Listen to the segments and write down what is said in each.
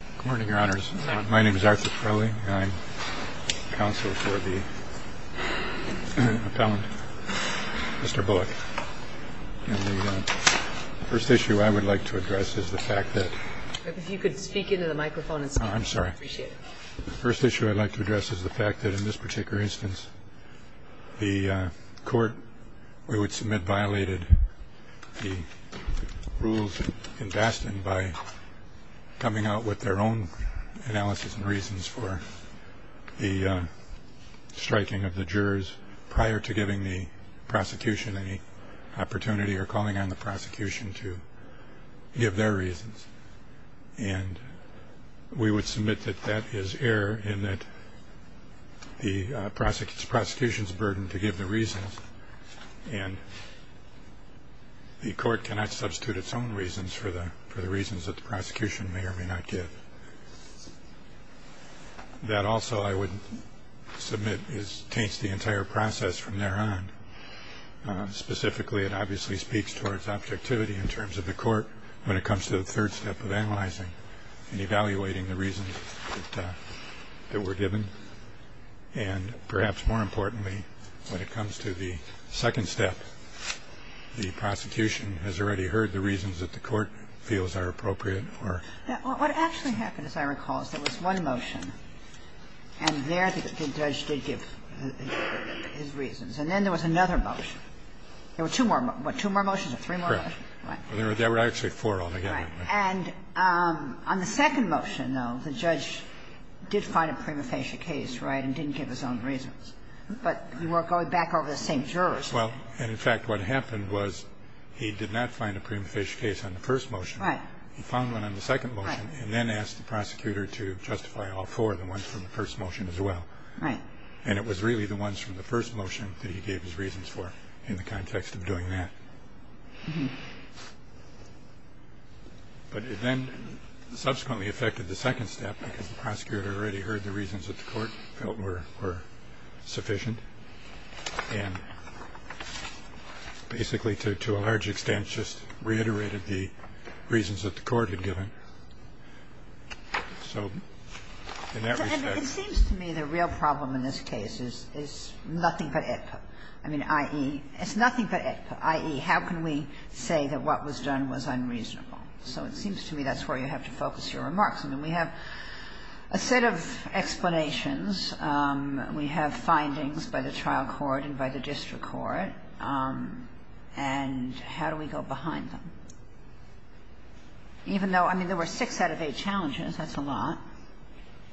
Good morning, your honors. My name is Arthur Torelli. I'm counsel for the appellant, Mr. Bullock. And the first issue I would like to address is the fact that... If you could speak into the microphone and speak. I'm sorry. I appreciate it. The first issue I'd like to address is the fact that in this particular instance, the court, we would submit, violated the rules in Baston by coming out with their own analysis and reasons for the striking of the jurors prior to giving the prosecution any opportunity or calling on the prosecution to give their reasons. And we would submit that that is error in that the prosecution's burden to give the reasons. And the court cannot substitute its own reasons for the reasons that the prosecution may or may not give. That also, I would submit, taints the entire process from there on. Specifically, it obviously speaks towards objectivity in terms of the court when it comes to the third step of analyzing and evaluating the reasons that were given. And perhaps more importantly, when it comes to the second step, the prosecution has already heard the reasons that the court feels are appropriate or... What actually happened, as I recall, is there was one motion, and there the judge did give his reasons. And then there was another motion. There were two more. What, two more motions or three more motions? Correct. Right. There were actually four altogether. Right. And on the second motion, though, the judge did find a prima facie case, right, and didn't give his own reasons. But you are going back over the same jurors. Well, and in fact, what happened was he did not find a prima facie case on the first motion. Right. He found one on the second motion and then asked the prosecutor to justify all four, the ones from the first motion as well. Right. And it was really the ones from the first motion that he gave his reasons for in the context of doing that. But it then subsequently affected the second step because the prosecutor already heard the reasons that the court felt were sufficient and basically to a large extent just reiterated the reasons that the court had given. So in that respect... I mean, I think the question of what was done in this case is nothing but AEDPA. I mean, i.e., it's nothing but AEDPA, i.e., how can we say that what was done was unreasonable? So it seems to me that's where you have to focus your remarks. I mean, we have a set of explanations. We have findings by the trial court and by the district court. And how do we go behind them? Even though, I mean, there were six out of eight challenges. That's a lot.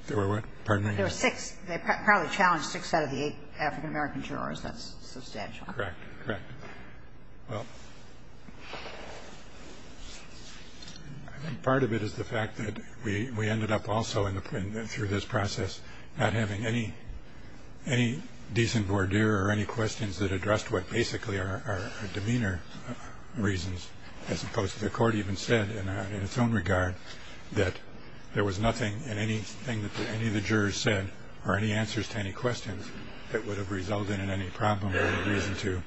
There were what? Pardon me? There were six. They probably challenged six out of the eight African-American jurors. That's substantial. Correct. Correct. Well, I think part of it is the fact that we ended up also, through this process, not having any decent voir dire or any questions that addressed what basically are demeanor reasons, as opposed to the court even said in its own regard that there was nothing in anything that any of the jurors said or any answers to any questions that would have resulted in any problem or any reason to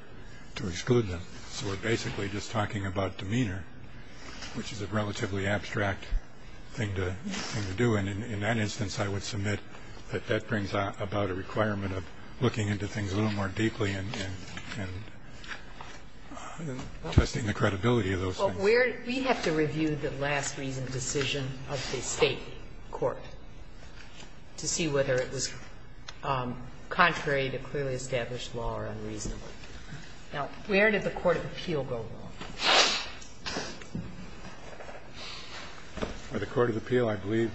exclude them. So we're basically just talking about demeanor, which is a relatively abstract thing to do. And in that instance, I would submit that that brings about a requirement of looking into things a little more deeply and testing the credibility of those things. Well, we have to review the last reasoned decision of the State court to see whether it was contrary to clearly established law or unreasonable. Now, where did the court of appeal go wrong? By the court of appeal, I believe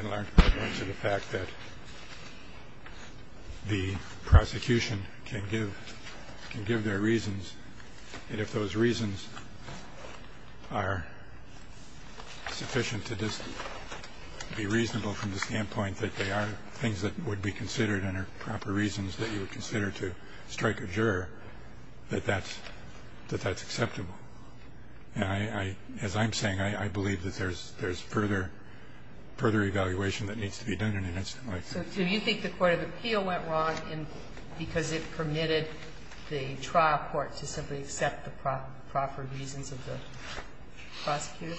in large part due to the fact that the prosecution can give their reasons, and if those reasons are sufficient to be reasonable from the standpoint that they are things that would be considered and are proper reasons that you would consider to strike a juror, that that's acceptable. And as I'm saying, I believe that there's further evaluation that needs to be done in an incident like that. So do you think the court of appeal went wrong because it permitted the trial court to simply accept the proper reasons of the prosecutor?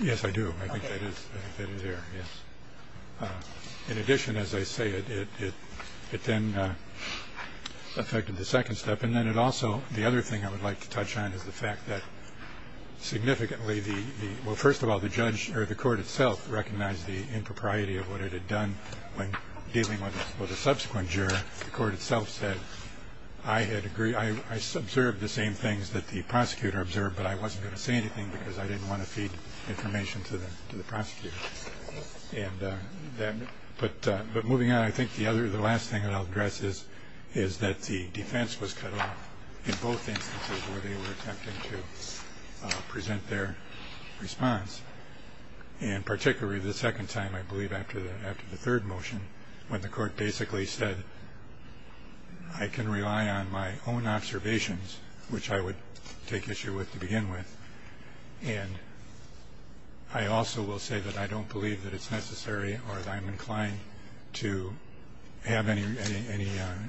Yes, I do. I think that is fair, yes. In addition, as I say, it then affected the second step. And then it also, the other thing I would like to touch on is the fact that significantly, well, first of all, the court itself recognized the impropriety of what it had done when dealing with a subsequent juror. The court itself said, I observed the same things that the prosecutor observed, but I wasn't going to say anything because I didn't want to feed information to the prosecutor. But moving on, I think the last thing that I'll address is that the defense was cut off in both instances where they were attempting to present their response. And particularly the second time, I believe after the third motion, when the court basically said, I can rely on my own observations, which I would take issue with to begin with. And I also will say that I don't believe that it's necessary or that I'm inclined to have any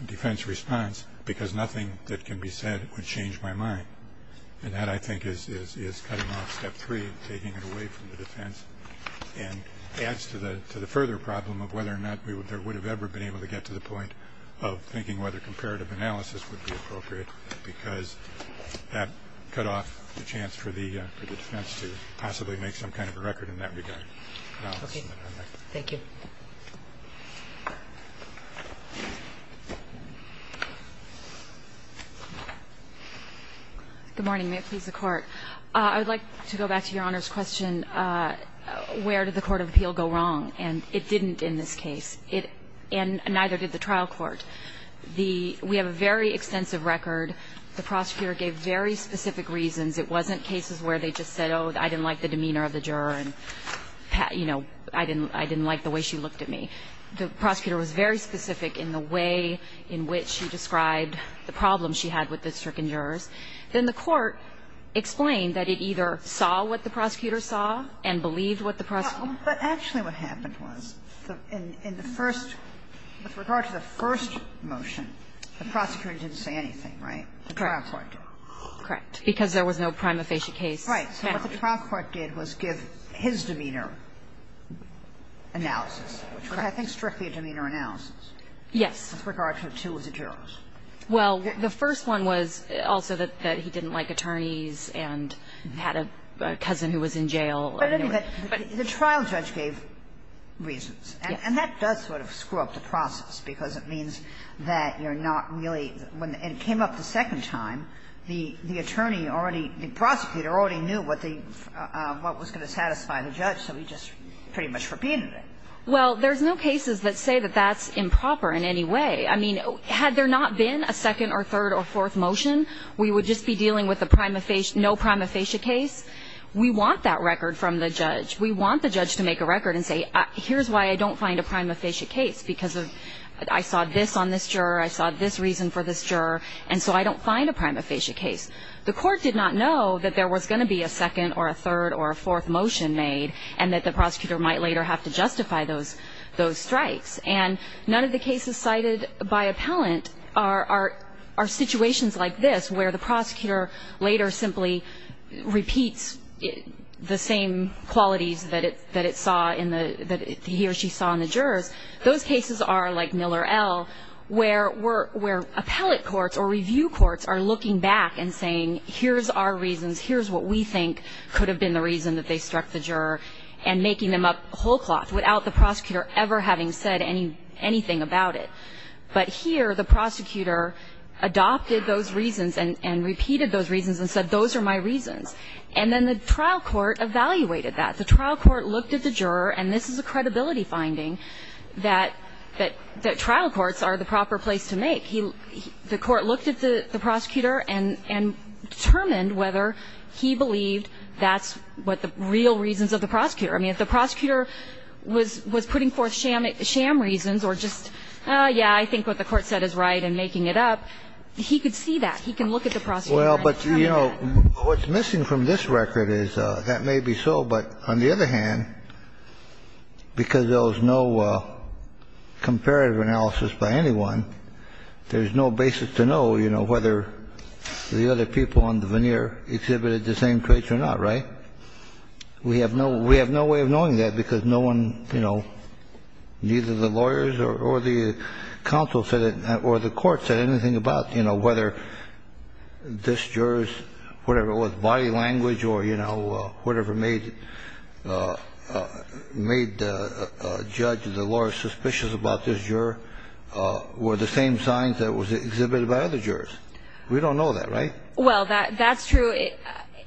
defense response because nothing that can be said would change my mind. And that, I think, is cutting off step three, taking it away from the defense, and adds to the further problem of whether or not there would have ever been able to get to the point of thinking whether comparative analysis would be appropriate because that cut off the chance for the defense to possibly make some kind of a record in that regard. Thank you. Good morning. May it please the Court. I would like to go back to Your Honor's question, where did the court of appeal go wrong? And it didn't in this case. And neither did the trial court. We have a very extensive record. The prosecutor gave very specific reasons. It wasn't cases where they just said, oh, I didn't like the demeanor of the juror and, you know, I didn't like the way she looked at me. The prosecutor was very specific in the way in which she described the problem she had with the stricken jurors. Then the court explained that it either saw what the prosecutor saw and believed what the prosecutor said. But in the first, with regard to the first motion, the prosecutor didn't say anything, right? The trial court did. Correct. Because there was no prima facie case found. Right. So what the trial court did was give his demeanor analysis, which was, I think, strictly a demeanor analysis. Yes. With regard to two of the jurors. Well, the first one was also that he didn't like attorneys and had a cousin who was in jail. But the trial judge gave reasons. Yes. And that does sort of screw up the process, because it means that you're not really when it came up the second time, the attorney already, the prosecutor already knew what the, what was going to satisfy the judge, so he just pretty much repeated it. Well, there's no cases that say that that's improper in any way. I mean, had there not been a second or third or fourth motion, we would just be dealing with the prima facie, no prima facie case. We want that record from the judge. We want the judge to make a record and say, here's why I don't find a prima facie case, because I saw this on this juror, I saw this reason for this juror, and so I don't find a prima facie case. The court did not know that there was going to be a second or a third or a fourth motion made and that the prosecutor might later have to justify those strikes. And none of the cases cited by appellant are situations like this where the prosecutor later simply repeats the same qualities that it, that it saw in the, that he or she saw in the jurors. Those cases are like Miller L., where appellate courts or review courts are looking back and saying, here's our reasons, here's what we think could have been the reason that they struck the juror, and making them up whole cloth without the prosecutor ever having said anything about it. But here, the prosecutor adopted those reasons and, and repeated those reasons and said, those are my reasons. And then the trial court evaluated that. The trial court looked at the juror, and this is a credibility finding, that, that trial courts are the proper place to make. He, the court looked at the, the prosecutor and, and determined whether he believed that's what the real reasons of the prosecutor. I mean, if the prosecutor was, was putting forth sham, sham reasons or just, yeah, I think what the court said is right and making it up, he could see that. He can look at the prosecutor and determine that. Kennedy. Well, but, you know, what's missing from this record is, that may be so, but on the other hand, because there was no comparative analysis by anyone, there's no basis to know, you know, whether the other people on the veneer exhibited the same traits or not, right? We have no, we have no way of knowing that because no one, you know, neither the lawyers or, or the counsel said it, or the court said anything about, you know, whether this juror's, whatever it was, body language or, you know, whatever made, made the judge or the lawyer suspicious about this juror were the same signs that was exhibited by other jurors. We don't know that, right? Well, that, that's true.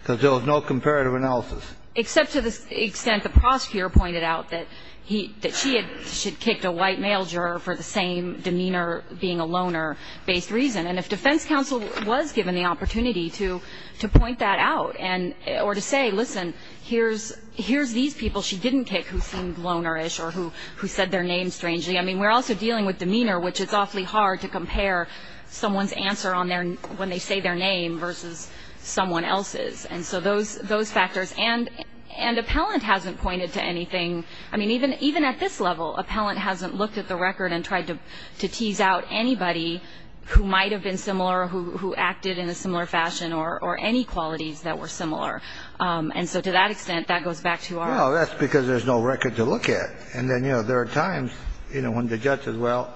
Because there was no comparative analysis. Except to the extent the prosecutor pointed out that he, that she had, she'd kicked a white male juror for the same demeanor being a loner-based reason. And if defense counsel was given the opportunity to, to point that out and, or to say, listen, here's, here's these people she didn't kick who seemed lonerish or who, who said their name strangely. I mean, we're also dealing with demeanor, which is awfully hard to compare someone's answer on their, when they say their name versus someone else's. And so those, those factors. And, and appellant hasn't pointed to anything. I mean, even, even at this level, appellant hasn't looked at the record and tried to, to tease out anybody who might have been similar, who, who acted in a similar fashion, or, or any qualities that were similar. And so to that extent, that goes back to our. Well, that's because there's no record to look at. And then, you know, there are times, you know, when the judge says, well,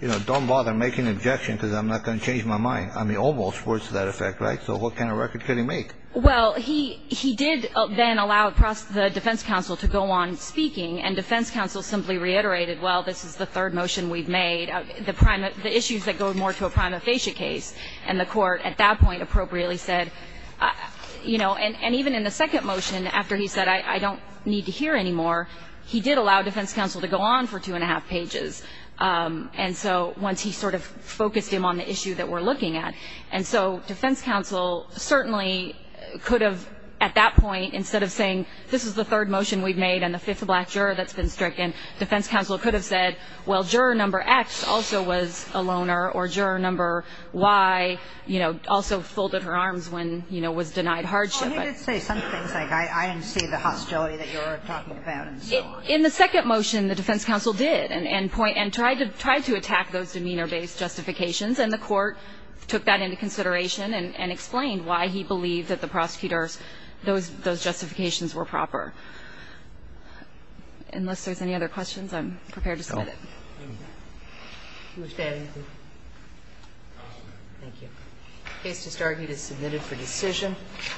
you know, don't bother making an objection because I'm not going to change my mind. I mean, almost words to that effect, right? So what kind of record could he make? Well, he, he did then allow the defense counsel to go on speaking. And defense counsel simply reiterated, well, this is the third motion we've made. The prime, the issues that go more to a prima facie case. And the court at that point appropriately said, you know, and, and even in the second motion, after he said, I, I don't need to hear anymore, he did allow defense counsel to go on for two and a half pages. And so once he sort of focused him on the issue that we're looking at. And so defense counsel certainly could have, at that point, instead of saying, this is the third motion we've made and the fifth black juror that's been stricken, defense counsel could have said, well, juror number X also was a loner or juror number Y, you know, also folded her arms when, you know, was denied hardship. Well, and he did say some things like, I, I didn't see the hostility that you were talking about and so on. In the second motion, the defense counsel did and, and point, and tried to, tried to attack those demeanor-based justifications. And the court took that into consideration and, and explained why he believed that the prosecutor's, those, those justifications were proper. Unless there's any other questions, I'm prepared to submit it. Thank you. Case to start is submitted for decision.